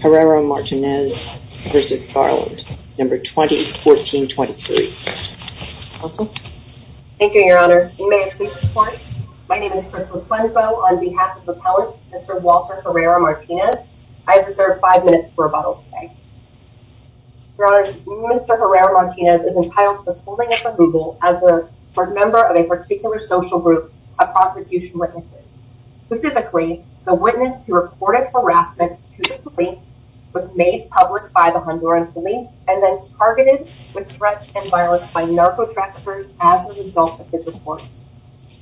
Herrera-Martinez v. Garland, No. 2014-23. Thank you, Your Honor. May I please report? My name is Crystal Swensboe on behalf of Appellant Mr. Walter Herrera-Martinez. I have reserved five minutes for rebuttal today. Your Honor, Mr. Herrera-Martinez is entitled for holding at the Google as a member of a particular social group of prosecution witnesses. Specifically, the witness who reported harassment to the police was made public by the Honduran police and then targeted with threat and violence by narco traffickers as a result of his report.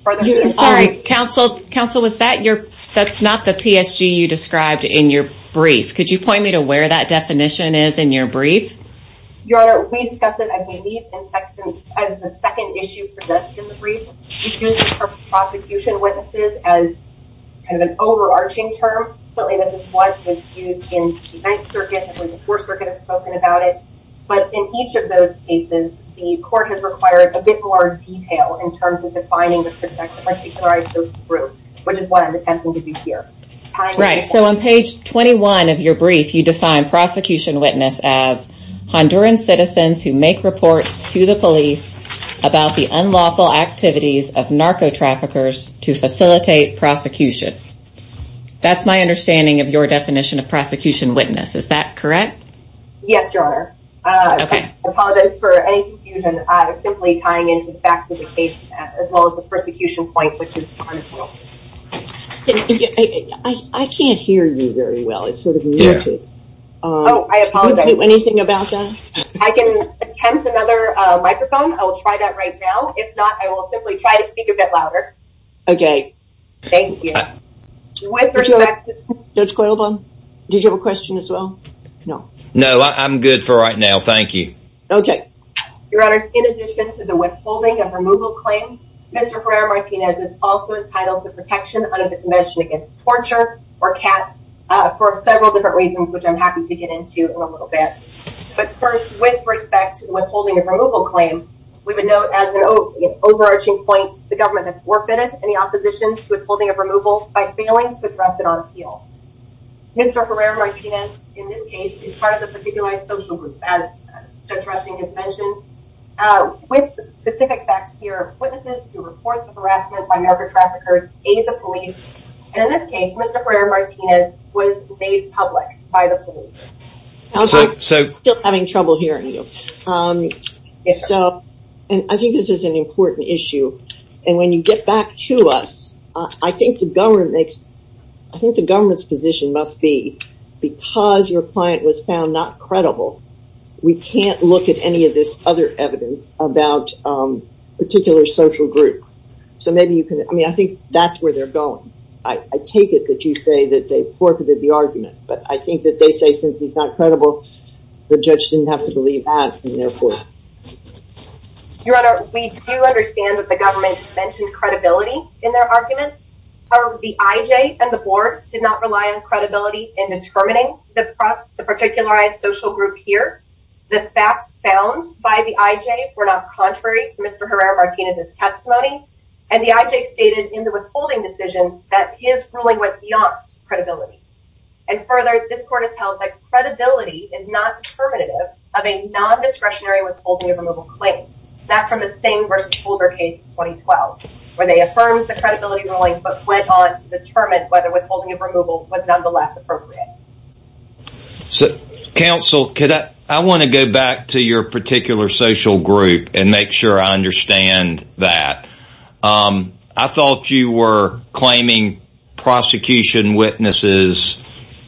I'm sorry, counsel, that's not the PSG you described in your brief. Could you point me to where that definition is in your brief? Your Honor, we discuss it as the second issue presented in the brief. We use prosecution witnesses as kind of an overarching term. Certainly, this is what was used in the 9th Circuit and when the 4th Circuit has spoken about it. But in each of those cases, the court has required a bit more detail in terms of defining the particularized group, which is what I'm attempting to do here. Right. So on page 21 of your brief, you define prosecution witness as Honduran citizens who make reports to the police about the unlawful activities of narco traffickers to facilitate prosecution. That's my understanding of your definition of prosecution witness. Is that correct? Yes, Your Honor. I apologize for any confusion. I'm simply tying into the facts of the case as well as the persecution point. I can't hear you very well. It's sort of muted. Oh, I apologize. Can you do anything about that? I can attempt another microphone. I will try that right now. If not, I will simply try to speak a bit louder. Okay. Thank you. With respect to Judge Coylebone, did you have a question as well? No. No, I'm good for right now. Thank you. Okay. Your Honor, in addition to the withholding of removal claim, Mr. Herrera-Martinez is also entitled to protection under the Convention Against Torture or CAT for several different reasons, which I'm happy to get into a little bit. But first, with respect to withholding removal claim, we would note as an overarching point, the government has forfeited any opposition to withholding of removal by failing to address it on appeal. Mr. Herrera-Martinez, in this case, is part of the particularized social group, as Judge Rushing has mentioned. With specific facts here, witnesses who report the harassment by narco traffickers aid the police. And in this case, Mr. Herrera-Martinez was made public by the police. I'm still having trouble hearing you. So, I think this is an important issue. And when you get back to us, I think the government makes, I think the government's position must be, because your client was found not credible, we can't look at any of this other evidence about a particular social group. So maybe you can, I mean, I think that's where they're going. I take it that you say that they forfeited the argument. But I think that they say, since he's not credible, the judge didn't have to believe that. Your Honor, we do understand that the government mentioned credibility in their arguments. However, the IJ and the board did not rely on credibility in determining the particularized social group here. The facts found by the IJ were not contrary to Mr. Herrera-Martinez's testimony. And the IJ stated in the withholding decision that his ruling went beyond credibility. And further, this court has held that credibility is not determinative of a non-discretionary withholding of removal claim. That's from the Singh v. Holder case in 2012, where they affirmed the credibility ruling but went on to determine whether withholding of removal was nonetheless appropriate. So, counsel, I want to go back to your particular social group and make sure I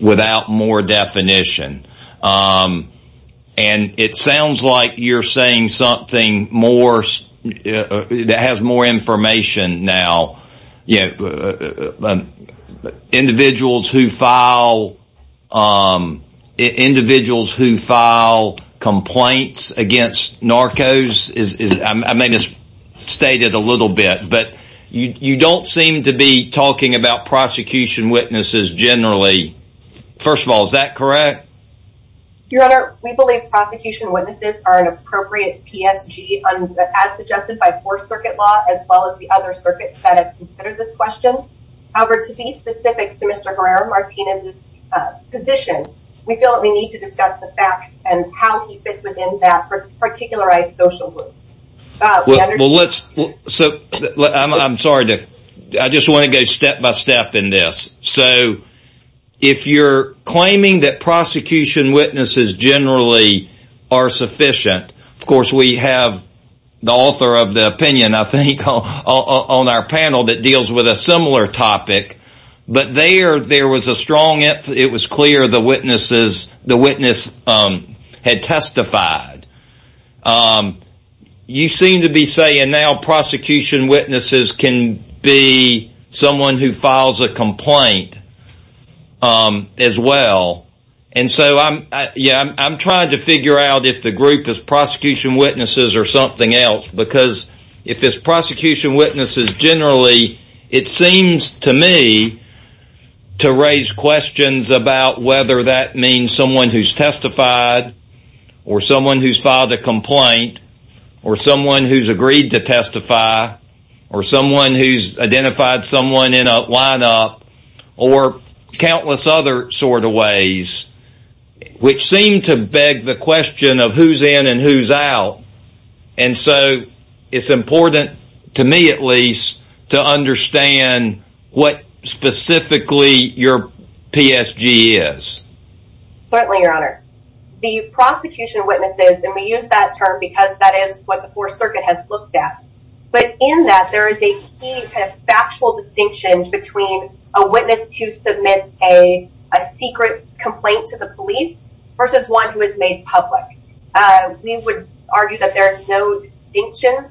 without more definition. And it sounds like you're saying something that has more information now. Individuals who file complaints against narcos, I may have misstated a little bit, but you don't seem to be talking about prosecution witnesses generally. First of all, is that correct? Your Honor, we believe prosecution witnesses are an appropriate PSG, as suggested by 4th Circuit law, as well as the other circuits that have considered this question. However, to be specific to Mr. Herrera-Martinez's position, we feel that we need to discuss the facts and how I just want to go step-by-step in this. So, if you're claiming that prosecution witnesses generally are sufficient, of course, we have the author of the opinion, I think, on our panel that deals with a similar topic, but there was a strong emphasis, it was clear the witness had testified. You seem to be saying now prosecution witnesses can be someone who files a complaint as well, and so I'm trying to figure out if the group is prosecution witnesses or something else, because if it's prosecution witnesses generally, it seems to me to raise questions about whether that means someone who's testified, or someone who's filed a complaint, or someone who's agreed to testify, or someone who's identified someone in a lineup, or countless other sort of ways, which seem to beg the question of who's in and who's out, and so it's important, to me at least, to understand what specifically your PSG is. Certainly, Your Honor. The prosecution witnesses, and we use that term because that is what the Fourth Circuit has looked at, but in that there is a key kind of factual distinction between a witness who submits a secret complaint to the police versus one who is made public. We would argue that there is no distinction,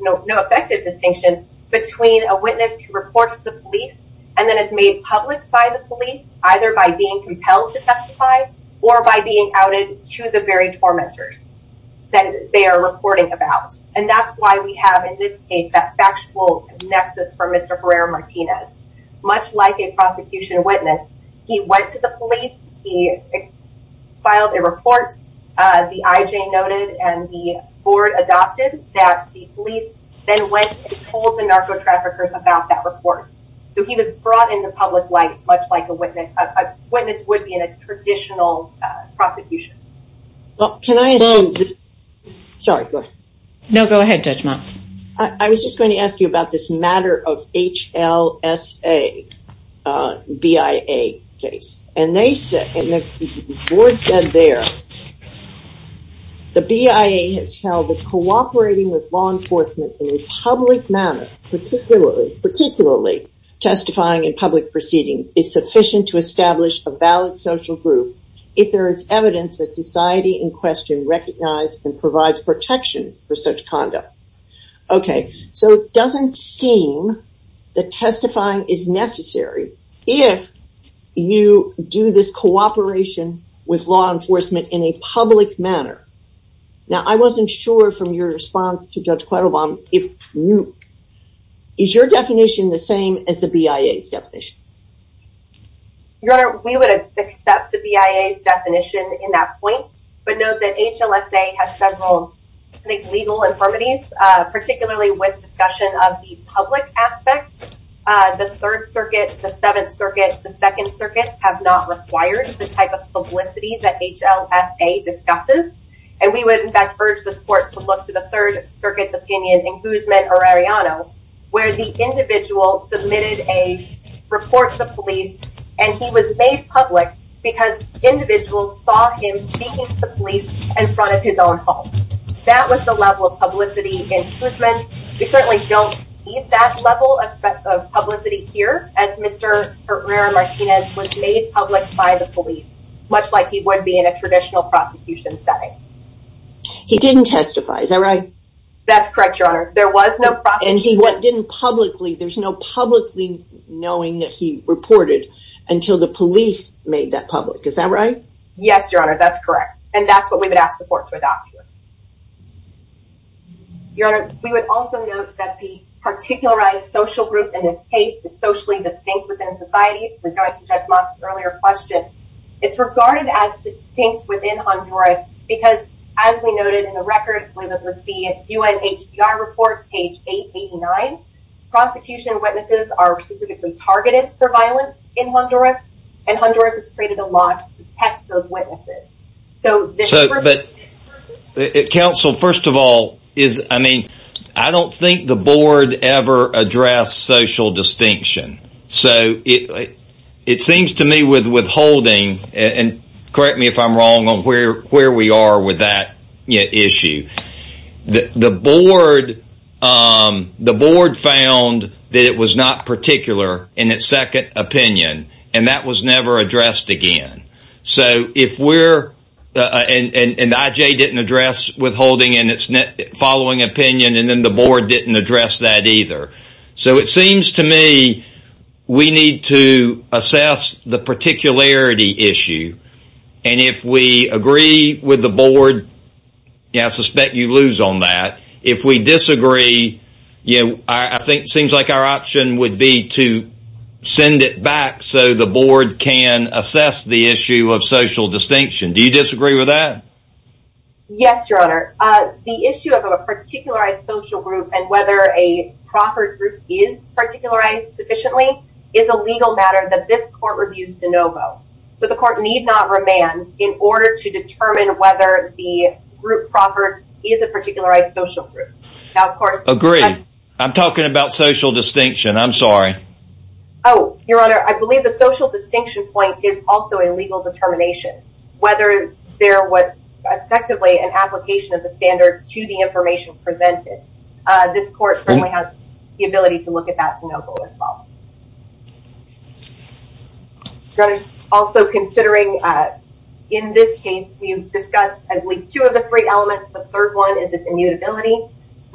no effective distinction, between a witness who reports to the police and then is made public by the police, either by being compelled to testify or by being outed to the very tormentors that they are reporting about, and that's why we have in this case that factual nexus for Mr. Herrera-Martinez. Much like a prosecution witness, he went to the board, adopted that, the police then went and told the narco-traffickers about that report. So, he was brought into public light, much like a witness. A witness would be in a traditional prosecution. Well, can I... Sorry, go ahead. No, go ahead, Judge Monks. I was just going to ask you about this matter of HLSA, BIA case, and they said, and the board said there, the BIA has held that cooperating with law enforcement in a public manner, particularly testifying in public proceedings, is sufficient to establish a valid social group if there is evidence that society in question recognizes and provides protection for such conduct. Okay, so it doesn't seem that testifying is necessary if you do this cooperation with law enforcement in a public manner. Now, I wasn't sure from your response to Judge Cladobaum if you... Is your definition the same as the BIA's definition? Your Honor, we would accept the BIA's definition in that point, but note that HLSA has several legal infirmities, particularly with discussion of the public aspect. The Third Circuit, the Seventh Circuit, the Second Circuit have not required the type of publicity that HLSA discusses, and we would, in fact, urge this court to look to the Third Circuit's opinion in Housman or Arellano, where the individual submitted a report to the police, and he was made public because individuals saw him speaking to the police in front of his own home. That was the level of Mr. Herrera-Martinez was made public by the police, much like he would be in a traditional prosecution setting. He didn't testify, is that right? That's correct, Your Honor. There was no... And he didn't publicly... There's no publicly knowing that he reported until the police made that public, is that right? Yes, Your Honor, that's correct, and that's what we would ask the court to adopt here. Your Honor, we would also note that the particularized social group in this case is socially distinct within society, with regard to Judge Mott's earlier question. It's regarded as distinct within Honduras because, as we noted in the record, whether it was the UNHCR report, page 889, prosecution witnesses are specifically targeted for violence in Honduras, and Honduras has created a law to protect those witnesses. So... So, but counsel, first of all, is, I mean, I don't think the board ever addressed social distinction. So, it seems to me with withholding, and correct me if I'm wrong on where we are with that issue, the board found that it was not particular in its second opinion, and that was never addressed again. So, if we're... And IJ didn't address withholding in its following opinion, and then the board didn't address that either. So, it seems to me we need to assess the particularity issue, and if we agree with the board, yeah, I suspect you lose on that. If we disagree, you know, I think of social distinction. Do you disagree with that? Yes, your honor. The issue of a particularized social group, and whether a proffered group is particularized sufficiently, is a legal matter that this court reviews de novo. So, the court need not remand in order to determine whether the group proffered is a particularized social group. Now, of course... Agreed. I'm talking about social distinction. I'm sorry. Oh, your honor, I believe the social distinction point is also a legal determination, whether there was effectively an application of the standard to the information presented. This court certainly has the ability to look at that de novo as well. Your honor, also considering in this case, we've discussed, I believe, two of the three elements. The third one is this immutability.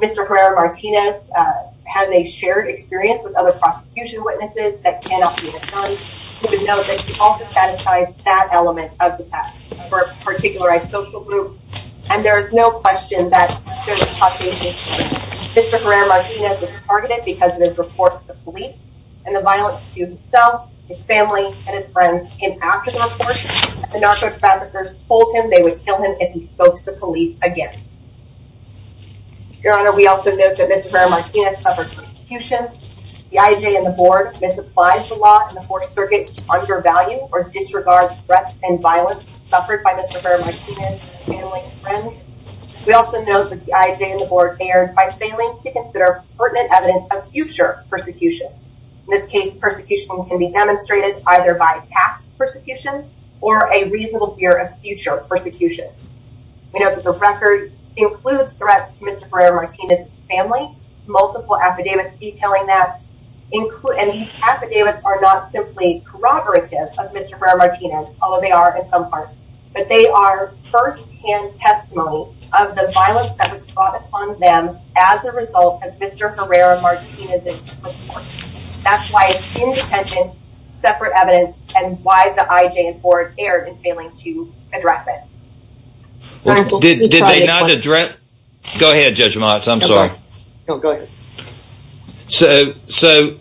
Mr. Herrera-Martinez has a shared experience with other prosecution witnesses that cannot be returned. We would note that he also statified that element of the task for a particularized social group, and there is no question that there was a prosecution. Mr. Herrera-Martinez was targeted because of his reports to the police and the violence to himself, his family, and his friends. And after the report, the narco traffickers told him they would kill him if he spoke to the police again. Your honor, we also note that Mr. Herrera-Martinez suffered persecution. The IAJ and the board misapplies the law in the Fourth Circuit to undervalue or disregard threats and violence suffered by Mr. Herrera-Martinez and his family and friends. We also note that the IAJ and the board erred by failing to consider pertinent evidence of future persecution. In this case, persecution can be demonstrated either by past persecution or a reasonable fear of future persecution. We note that the record includes threats to Mr. Herrera-Martinez's family, multiple affidavits detailing that, and these affidavits are not simply corroborative of Mr. Herrera-Martinez, although they are in some parts, but they are first-hand testimony of the violence that was brought upon them as a result of Mr. Herrera-Martinez's reports. That's why it's in error in failing to address it. Go ahead, Judge Motz, I'm sorry. So, so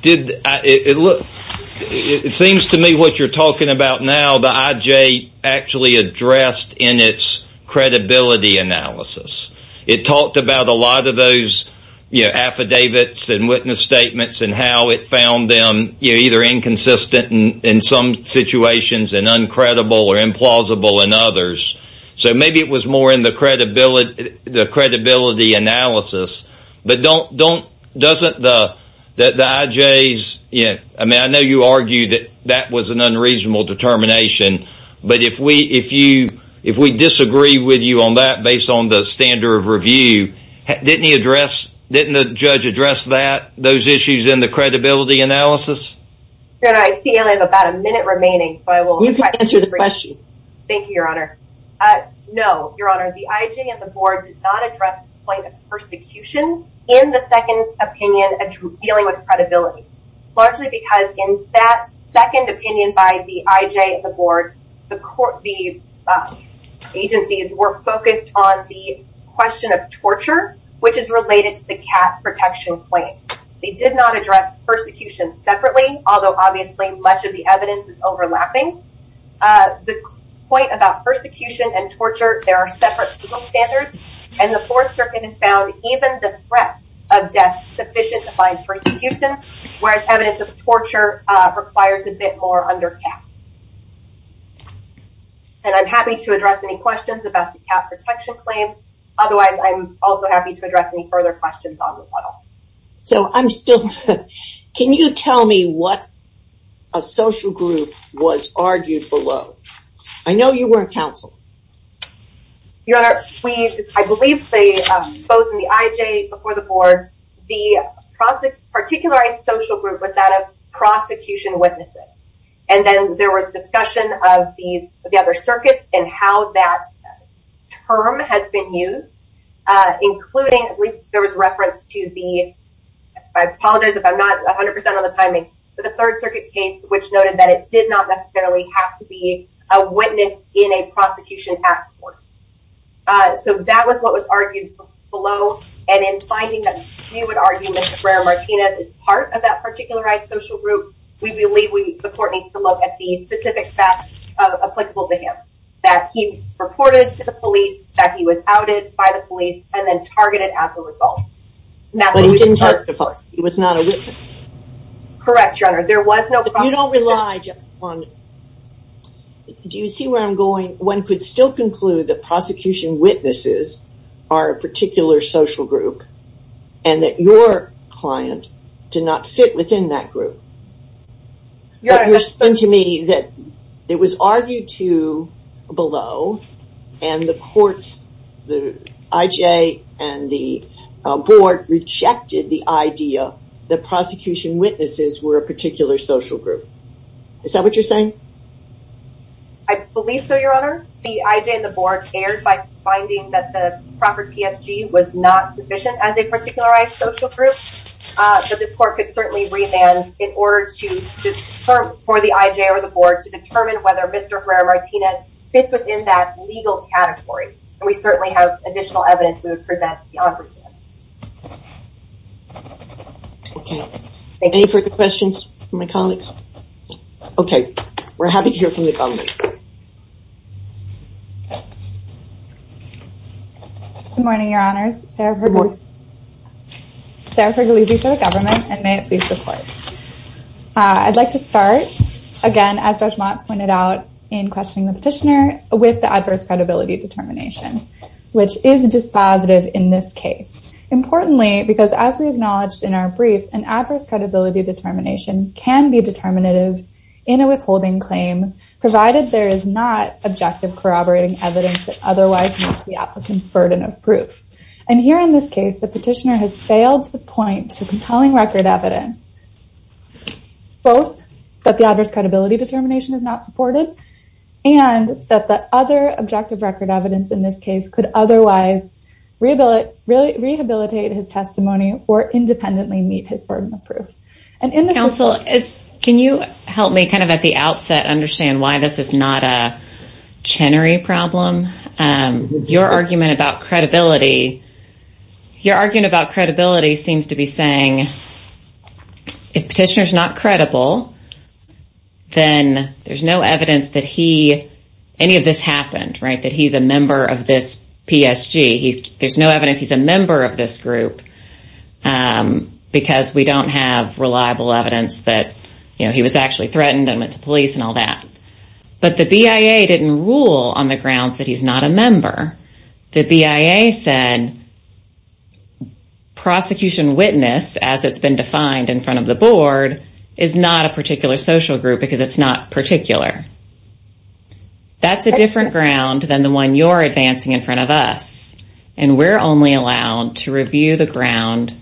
did it look, it seems to me what you're talking about now, the IJ actually addressed in its credibility analysis. It talked about a lot of those, you know, affidavits and witness statements and how it found them, you know, either inconsistent in some situations and uncredible or implausible in others. So maybe it was more in the credibility, the credibility analysis, but don't, don't, doesn't the, the IJs, I mean, I know you argue that that was an unreasonable determination, but if we, if you, if we disagree with you on that based on the standard of review, didn't he address, didn't the judge address that, those issues in the credibility analysis? I see I have about a minute remaining, so I will answer the question. Thank you, Your Honor. No, Your Honor, the IJ and the board did not address this point of persecution in the second opinion of dealing with credibility, largely because in that second opinion by the IJ and the board, the court, the agencies were focused on the question of torture, which is related to the cat protection claim. They did not address persecution separately, although obviously much of the evidence is overlapping. The point about persecution and torture, there are separate standards and the fourth circuit has found even the threat of death sufficient to find persecution, whereas evidence of torture requires a bit more under cat. And I'm happy to address any questions about the cat protection claim. Otherwise, I'm also happy to address any further questions on the model. So I'm still, can you tell me what a social group was argued below? I know you weren't counsel. Your Honor, we, I believe they both in the IJ before the board, the particular social group was that of prosecution witnesses. And then there was discussion of the other circuits and how that term has been used, including there was reference to the, I apologize if I'm not 100% on the timing, but the third circuit case, which noted that it did not necessarily have to be a witness in a prosecution at court. So that was what was argued below. And in finding that you would argue Mr. Brera-Martinez is part of that particularized social group. We believe we, the court needs to look at the specific facts applicable to him, that he reported to the police, that he was outed by the police and then targeted as a result. But he didn't testify. He was not a witness. Correct, Your Honor. There was no... You don't rely on, do you see where I'm going? One could still conclude that prosecution witnesses are a particular social group and that your client did not fit within that group. Your Honor, that's... The court rejected the idea that prosecution witnesses were a particular social group. Is that what you're saying? I believe so, Your Honor. The IJ and the board erred by finding that the proper PSG was not sufficient as a particularized social group. So this court could certainly remand in order to for the IJ or the board to determine whether Mr. Herrera-Martinez fits within that legal category. And we certainly have additional evidence for that to be offered. Okay. Any further questions from my colleagues? Okay. We're happy to hear from the government. Good morning, Your Honors. Good morning. Sarah Pergolizzi for the government and may it please the court. I'd like to start, again, as Judge Watts pointed out in questioning the petitioner, with the adverse credibility determination, which is dispositive in this case. Importantly, because as we acknowledged in our brief, an adverse credibility determination can be determinative in a withholding claim, provided there is not objective corroborating evidence that otherwise makes the applicant's burden of proof. And here in this case, the petitioner has failed to point to compelling record evidence, both that the adverse credibility determination is not supported, and that the other objective record evidence in this case could otherwise rehabilitate his testimony or independently meet his burden of proof. And in the- Counsel, can you help me kind of at the outset understand why this is not a Chenery problem? Your argument about credibility seems to be saying, if petitioner's not credible, then there's no evidence that he, any of this happened, right? That he's a member of this PSG. There's no evidence he's a member of this group because we don't have reliable evidence that, you know, he was actually threatened and went to police and all that. But the BIA didn't rule on the grounds that he's not a member. The BIA said, prosecution witness, as it's been defined in front of the board, is not a particular social group because it's not particular. That's a different ground than the one you're advancing in front of us. And we're only allowed to review the ground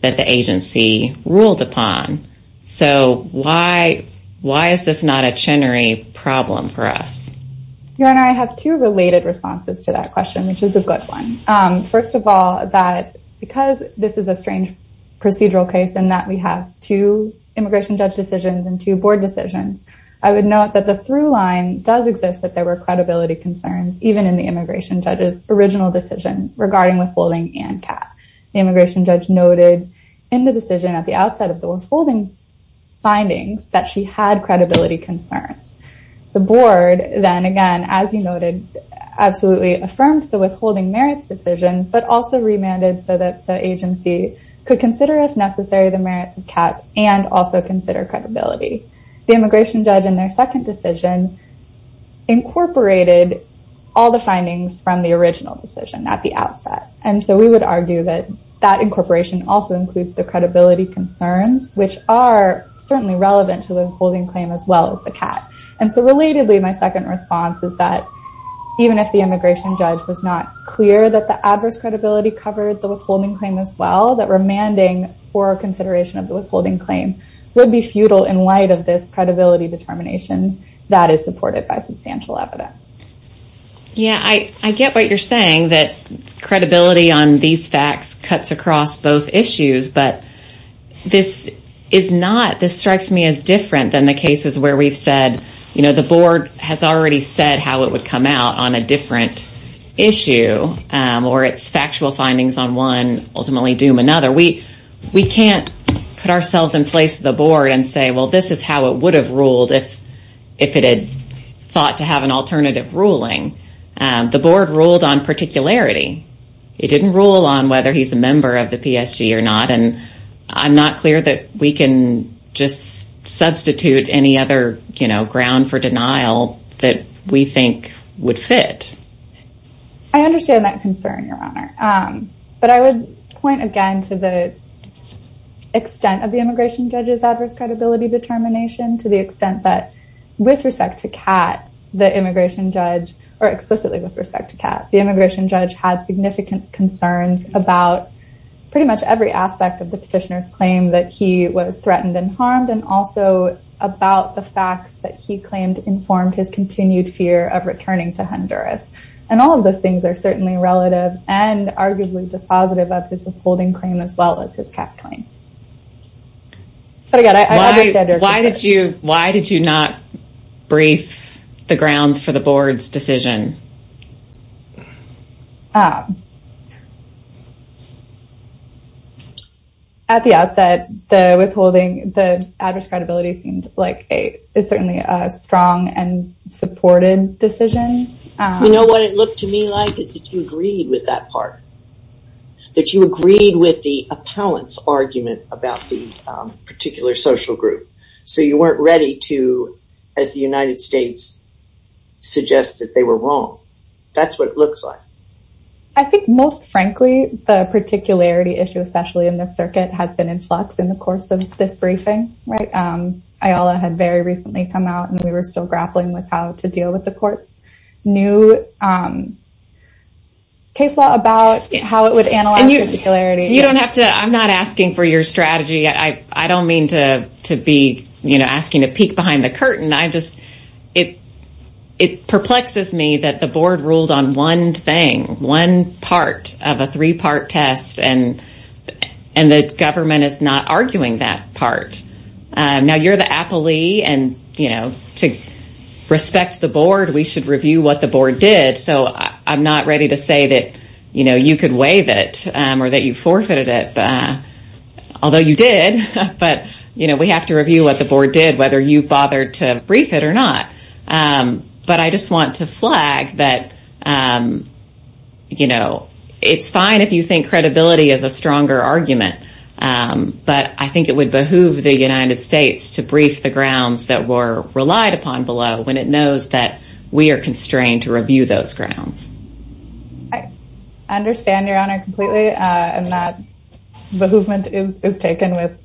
that the agency ruled upon. So why, why is this not a Chenery problem for us? Your Honor, I have two related responses to that question, which is a good one. First of all, that because this is a strange procedural case and that we have two immigration judge decisions and two board decisions, I would note that the through line does exist, that there were credibility concerns, even in the immigration judge's original decision regarding withholding and cap. The immigration judge noted in the decision at the outset of The board then again, as you noted, absolutely affirmed the withholding merits decision, but also remanded so that the agency could consider if necessary, the merits of cap and also consider credibility. The immigration judge in their second decision, incorporated all the findings from the original decision at the outset. And so we would argue that that incorporation also includes the credibility concerns, which are certainly relevant to the withholding claim as well as the cap. And so relatedly, my second response is that even if the immigration judge was not clear that the adverse credibility covered the withholding claim as well, that remanding for consideration of the withholding claim would be futile in light of this credibility determination that is supported by substantial evidence. Yeah, I get what you're saying that this is not this strikes me as different than the cases where we've said, you know, the board has already said how it would come out on a different issue, or it's factual findings on one ultimately doom another we, we can't put ourselves in place the board and say, well, this is how it would have ruled if, if it had thought to have an alternative ruling. The board ruled on particularity. It didn't rule on whether he's a member of the PSG or not. And I'm not clear that we can just substitute any other, you know, ground for denial that we think would fit. I understand that concern, Your Honor. But I would point again to the extent of the immigration judges adverse credibility determination to the extent that with respect to cat, the immigration judge, or explicitly with respect to cat, the immigration the petitioner's claim that he was threatened and harmed and also about the facts that he claimed informed his continued fear of returning to Honduras. And all of those things are certainly relative and arguably dispositive of his withholding claim as well as his cat claim. But again, I understand why did you why did you not brief the grounds for the board's decision? At the outset, the withholding, the adverse credibility seemed like a certainly a strong and supported decision. You know what it looked to me like is that you agreed with that part. That you agreed with the appellant's argument about the particular social group. So you weren't ready to, as the United States suggests that they were wrong. That's what it looks like. I think most frankly, the particularity issue, especially in this circuit has been in flux in the course of this briefing, right? Ayala had very recently come out, and we were still grappling with how to deal with the court's new case law about how it would analyze particularity. You don't have to I'm not asking for your strategy. I don't mean to be, you know, asking to peek behind the curtain. I just, it perplexes me that the board ruled on one thing, one part of a three part test, and the government is not arguing that part. Now, you're the appellee and, you know, to respect the board, we should review what the board did. So I'm not ready to say that, you know, you could waive it, or that you forfeited it. Although you did. But, you know, we have to review what the board did, whether you bothered to brief it or not. But I just want to flag that, you know, it's fine if you think credibility is a stronger argument. But I think it would behoove the United States to brief the grounds that were relied upon below when it knows that we are constrained to review those grounds. I understand your honor completely. And that is taken with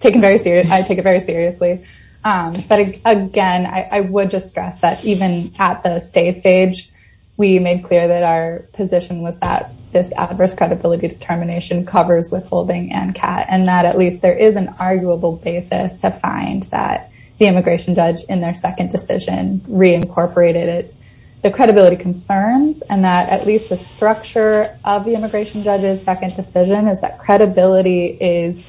taken very serious. I take it very seriously. But again, I would just stress that even at the state stage, we made clear that our position was that this adverse credibility determination covers withholding and cat and that at least there is an arguable basis to find that the immigration judge in their second decision reincorporated the credibility concerns and that at least the structure of the immigration judges second decision is that credibility is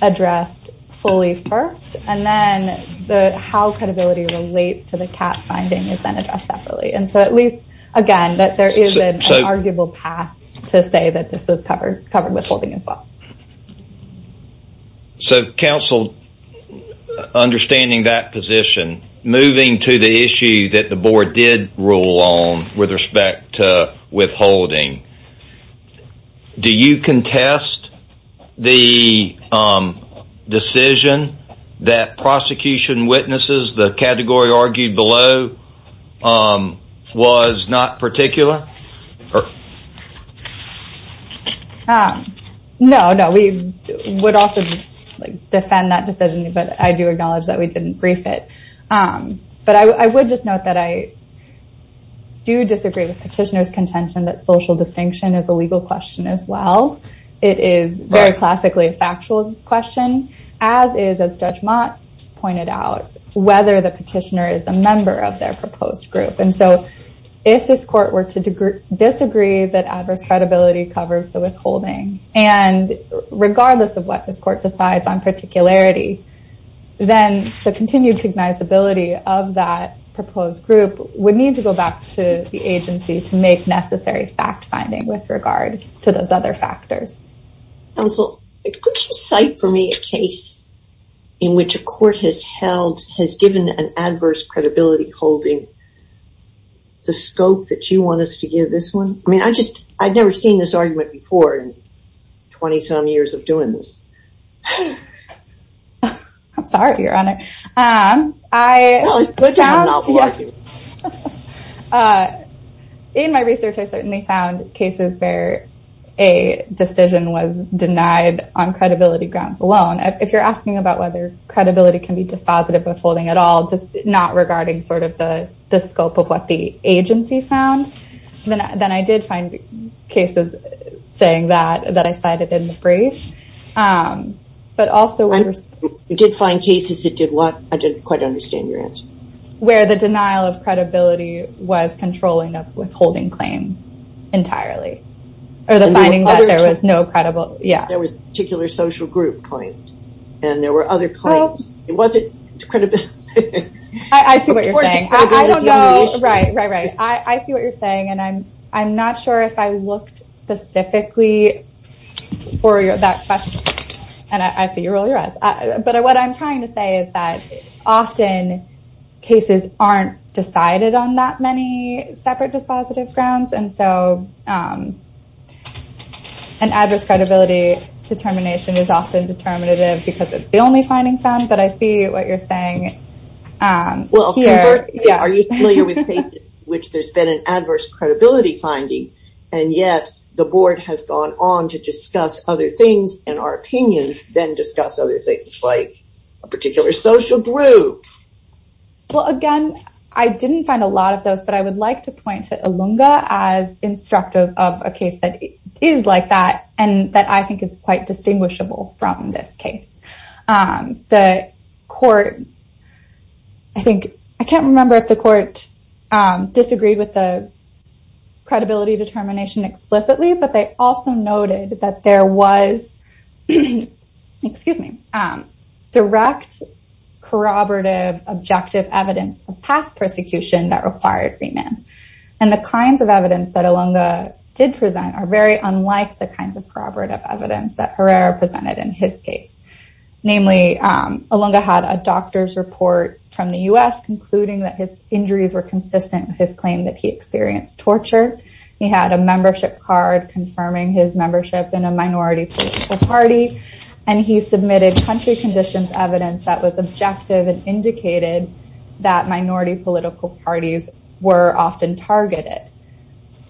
addressed fully first, and then the how credibility relates to the cat finding is then addressed separately. And so at least, again, that there is an arguable path to say that this is covered, covered withholding as well. So counsel, understanding that position, moving to the issue that the board did rule on with respect to withholding, do you contest the decision that prosecution witnesses, the category argued below, was not particular? No, no, we would also defend that decision, but I do acknowledge that we didn't brief it. But I would just note that I do disagree with petitioners contention that social distinction is a legal question as well. It is very classically a factual question, as is as Judge Mott's pointed out, whether the petitioner is a member of their proposed group. And so if this court were to disagree that adverse credibility covers the withholding, and regardless of what this court decides on particularity, then the continued cognizability of that proposed group would need to go back to the agency to make necessary fact finding with regard to those other factors. Counsel, could you cite for me a case in which a court has held has given an adverse credibility holding the scope that you want us to give this one? I mean, I just I've never seen this argument before in 20 some years of doing this. I'm sorry, Your Honor. I found in my research, I certainly found cases where a decision was denied on credibility grounds alone. If you're asking about whether credibility can be dispositive withholding at all, not regarding sort of the scope of what the agency found, then I did find cases saying that that I cited in the brief. But also, I did find cases that did what I didn't quite understand your answer, where the denial of credibility was controlling of withholding claim entirely, or the finding that there was no credible. Yeah, there was a particular social group and there were other claims. It wasn't. I see what you're saying. I don't know. Right, right, right. I see what you're saying. And I'm not sure if I looked specifically for that question. And I see you roll your eyes. But what I'm trying to say is that often cases aren't decided on that many separate dispositive grounds. And so an adverse credibility determination is often determinative because it's the only finding found. But I see what you're saying. Well, are you familiar with cases in which there's been an adverse credibility finding, and yet the board has gone on to discuss other things and our opinions then discuss other things like a particular social group? Well, again, I didn't find a lot of those. But I would like to point to Ilunga as instructive of a case that is like that, and that I think is quite distinguishable from this case. I can't remember if the court disagreed with the credibility determination explicitly, but they also noted that there was excuse me, direct, corroborative, objective evidence of past persecution that required remand. And the kinds of evidence that Ilunga did present are very unlike the kinds of corroborative evidence that Herrera presented in his case. Namely, Ilunga had a doctor's report from the US concluding that his injuries were consistent with his claim that he experienced torture. He had a membership card confirming his membership in a minority political party. And he submitted country conditions evidence that was objective and indicated that minority political parties were often targeted.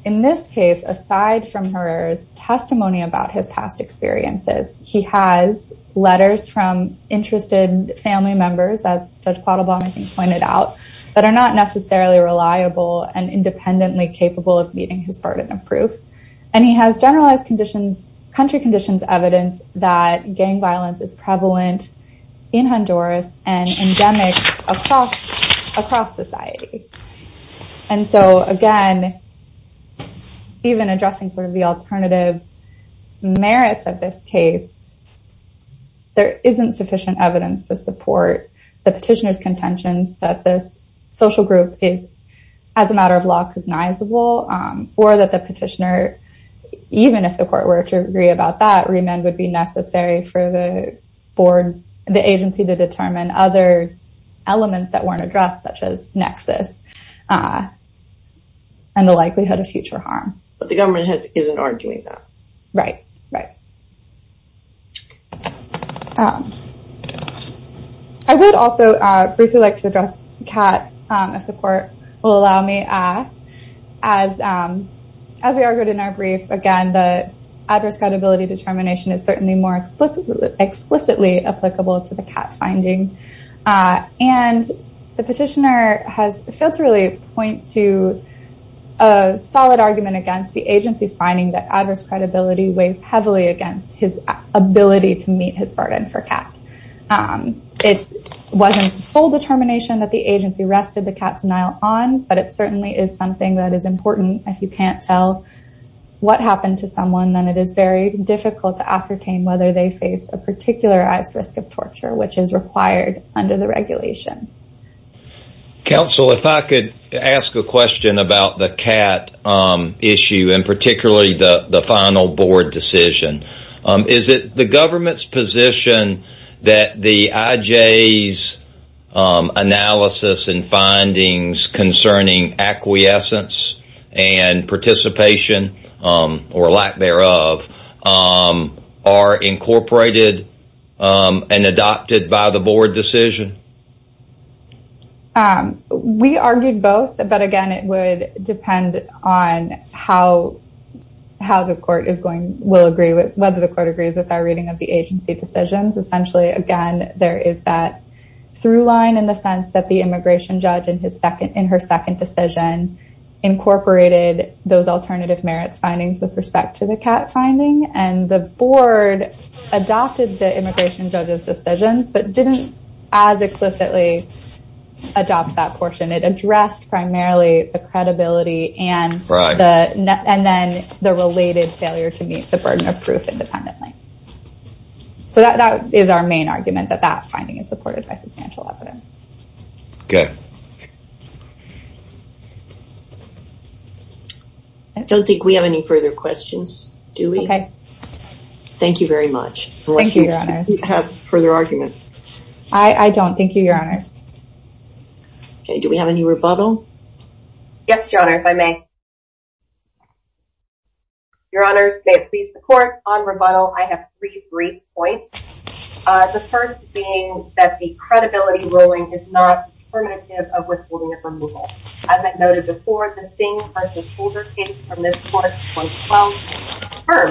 In this case, aside from Herrera's testimony about his past experiences, he has letters from interested family members, as Judge Quattlebaum pointed out, that are not necessarily reliable and independently capable of meeting his burden of proof. And he has generalized country conditions evidence that gang violence is prevalent in Honduras and endemic across society. And so again, even addressing sort of the alternative merits of this case, there isn't sufficient evidence to support the petitioner's contentions that this social group is, as a matter of law, cognizable, or that the petitioner, even if the court were to agree about that, remand would be necessary for the agency to determine other elements that weren't addressed, such as nexus and the likelihood of future harm. But the government isn't arguing that. Right, right. I would also briefly like to address the CAT, if the court will allow me. As we argued in our brief, again, the adverse credibility determination is certainly more explicitly applicable to the CAT finding. And the petitioner has failed to really point to a solid argument against the agency's that adverse credibility weighs heavily against his ability to meet his burden for CAT. It wasn't the sole determination that the agency rested the CAT denial on, but it certainly is something that is important. If you can't tell what happened to someone, then it is very difficult to ascertain whether they face a particularized risk of torture, which is required under the regulations. Counsel, if I could ask a question about the CAT issue, and particularly the final board decision. Is it the government's position that the IJ's analysis and findings concerning acquiescence and participation, or lack thereof, are incorporated and adopted by the board decision? Um, we argued both. But again, it would depend on how, how the court is going will agree with whether the court agrees with our reading of the agency decisions. Essentially, again, there is that through line in the sense that the immigration judge in his second in her second decision, incorporated those alternative merits findings with respect to the CAT finding and the adopt that portion. It addressed primarily the credibility and the and then the related failure to meet the burden of proof independently. So that is our main argument that that finding is supported by substantial evidence. Okay. I don't think we have any further questions. Do we? Okay. Have further argument. I don't think you your honors. Okay, do we have any rebuttal? Yes, your honor, if I may. Your honors, may it please the court on rebuttal, I have three brief points. The first being that the credibility ruling is not primitive of withholding of removal. As I've noted before, the same person's older case from this court, well, but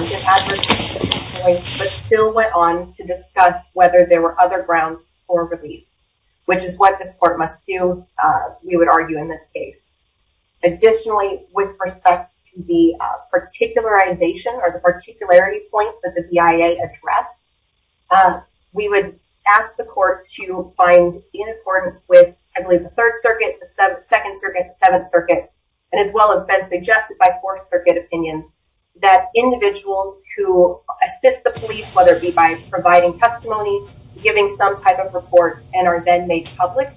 still went on to discuss whether there were other grounds for relief, which is what this court must do. We would argue in this case. Additionally, with respect to the particularization or the particularity point that the BIA address, we would ask the court to find in accordance with, I believe, the third circuit, the second circuit, and as well as been suggested by fourth circuit opinion, that individuals who assist the police, whether it be by providing testimony, giving some type of report and are then made public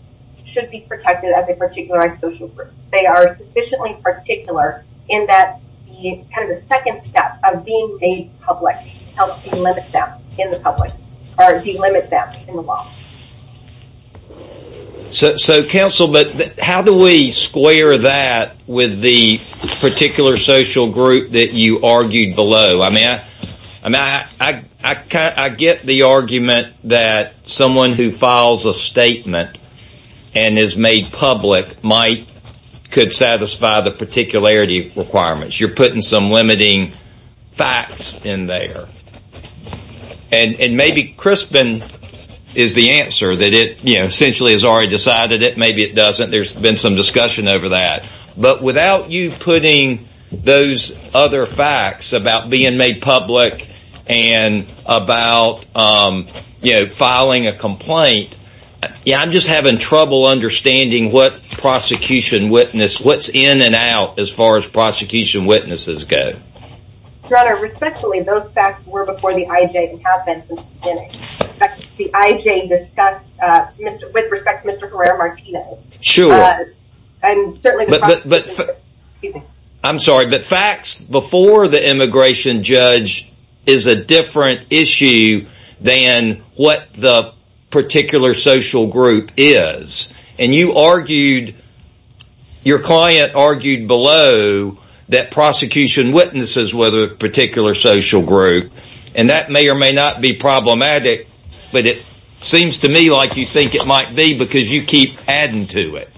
should be protected as a particularized social group. They are sufficiently particular in that the kind of the second step of being a public helps limit them in the public or delimit them in the law. So, counsel, but how do we square that with the particular social group that you argued below? I mean, I get the argument that someone who files a statement and is made public might could satisfy the particularity requirements. You're putting some limiting facts in there. And maybe Crispin is the answer that it, you know, essentially has already decided it. Maybe it doesn't. There's been some discussion over that. But without you putting those other facts about being made public and about, you know, filing a complaint, yeah, I'm just having trouble understanding what prosecution witness, what's in and out as far as prosecution witnesses go. Your Honor, respectfully, those facts were before the IJ and have been since the beginning. The IJ discussed with respect to Mr. Herrera-Martinez. Sure. I'm sorry, but facts before the immigration judge is a different issue than what the argued below that prosecution witnesses with a particular social group. And that may or may not be problematic, but it seems to me like you think it might be because you keep adding to it.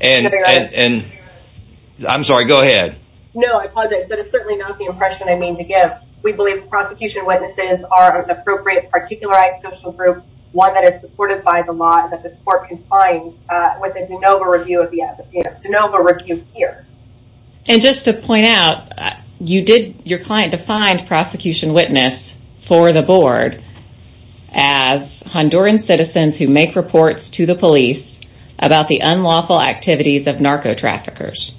And I'm sorry, go ahead. No, I apologize, but it's certainly not the impression I mean to give. We believe prosecution witnesses are appropriate, particularized social group, one that is supported by the law and that the court can find with a de novo review of the And just to point out, you did your client defined prosecution witness for the board as Honduran citizens who make reports to the police about the unlawful activities of narco traffickers.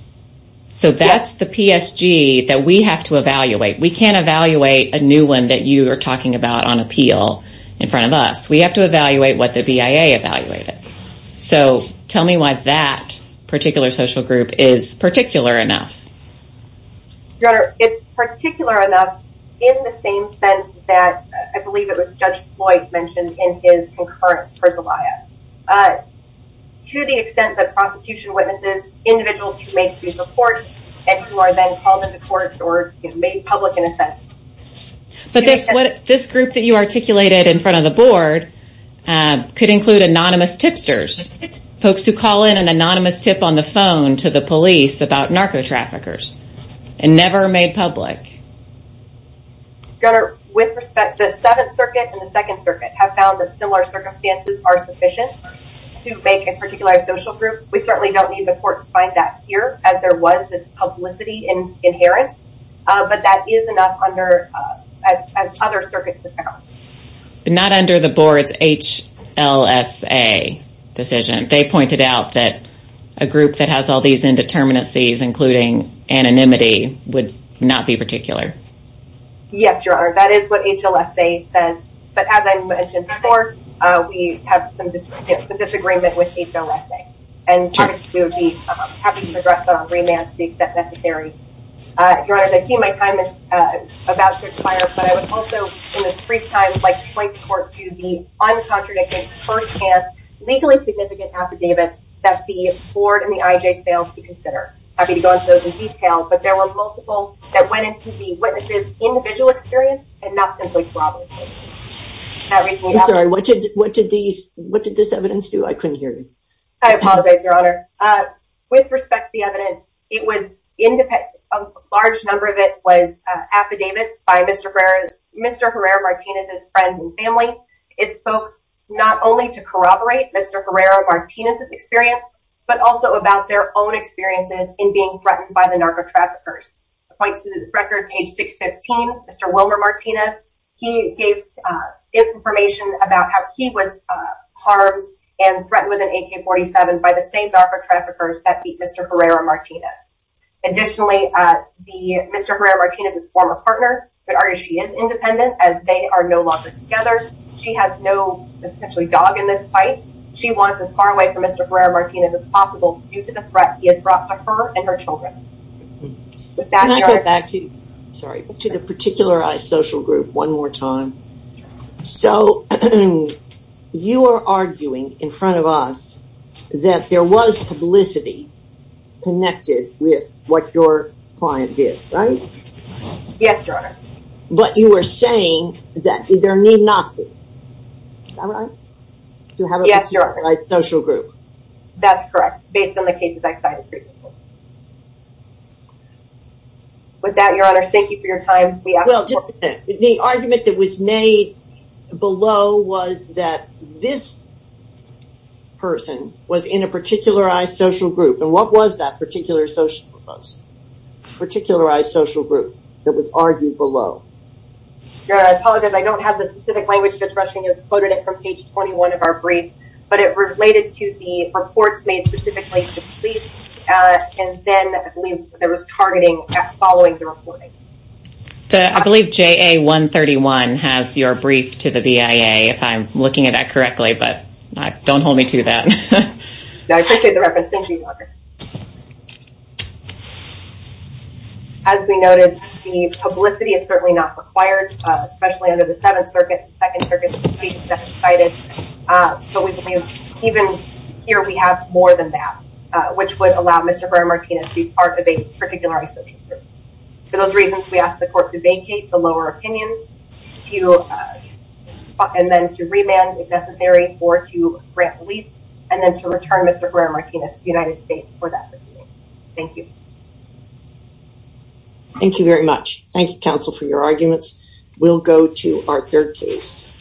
So that's the PSG that we have to evaluate. We can't evaluate a new one that you are talking about on appeal in front of us. We have to evaluate what the BIA evaluated. So tell me why that particular social group is particular enough. Your Honor, it's particular enough in the same sense that I believe it was Judge Floyd mentioned in his concurrence for the BIA. To the extent that prosecution witnesses individuals who make these reports and who are then called into court or made public in a sense. But this what this group that you articulated in front of the board could include anonymous tipsters, folks who call in an anonymous tip on the phone to the police about narco traffickers, and never made public. Your Honor, with respect, the Seventh Circuit and the Second Circuit have found that similar circumstances are sufficient to make a particular social group. We certainly don't need the court to find that here as there was this as other circuits have found. Not under the board's HLSA decision, they pointed out that a group that has all these indeterminacies, including anonymity would not be particular. Yes, Your Honor, that is what HLSA says. But as I mentioned before, we have some disagreement with HLSA. And we would be happy to address that on remand to the extent necessary. Your Honor, I see my time is about to expire, but I would also, in this brief time, like to point the court to the uncontradicted, firsthand, legally significant affidavits that the board and the IJ failed to consider. I'd be happy to go into those in detail, but there were multiple that went into the witnesses' individual experience and not simply to our own. I'm sorry, what did this evidence do? I couldn't hear you. I apologize, Your Honor. With respect to the evidence, it was independent. A large number of it was affidavits by Mr. Herrera-Martinez's friends and family. It spoke not only to corroborate Mr. Herrera-Martinez's experience, but also about their own experiences in being threatened by the narco traffickers. It points to the record, page 615, Mr. Wilmer Martinez. He gave information about how he was harmed and threatened with an AK-47 by the same narco traffickers that beat Mr. Herrera-Martinez. Additionally, Mr. Herrera-Martinez's former partner, but she is independent as they are no longer together. She has no, essentially, dog in this fight. She wants as far away from Mr. Herrera-Martinez as possible due to the threat he has brought to her and her children. Can I go back to, sorry, to the particularized social group one more time? So, you are arguing in front of us that there was publicity connected with what your client did, right? Yes, Your Honor. But you are saying that there need not be. Am I right? Yes, Your Honor. Social group. That's correct. Based on the cases I cited previously. With that, Your Honor, thank you for your time. Well, just a minute. The argument that was made below was that this person was in a particularized social group. And what was that particularized social group that was argued below? Your Honor, I apologize. I don't have the specific language as quoted in page 21 of our brief, but it related to the reports made specifically to the police. And then, I believe, there was targeting following the reporting. I believe JA-131 has your brief to the BIA, if I'm looking at that correctly, but don't hold me to that. As we noted, the publicity is certainly not required, especially under the Second Circuit's case that I cited. But we believe even here, we have more than that, which would allow Mr. Herrera-Martinez to be part of a particularized social group. For those reasons, we ask the court to vacate the lower opinions and then to remand, if necessary, or to grant relief, and then to return Mr. Herrera-Martinez to the United States for that. Thank you. Thank you very much. Thank you, counsel, for your arguments. We'll go to our third case.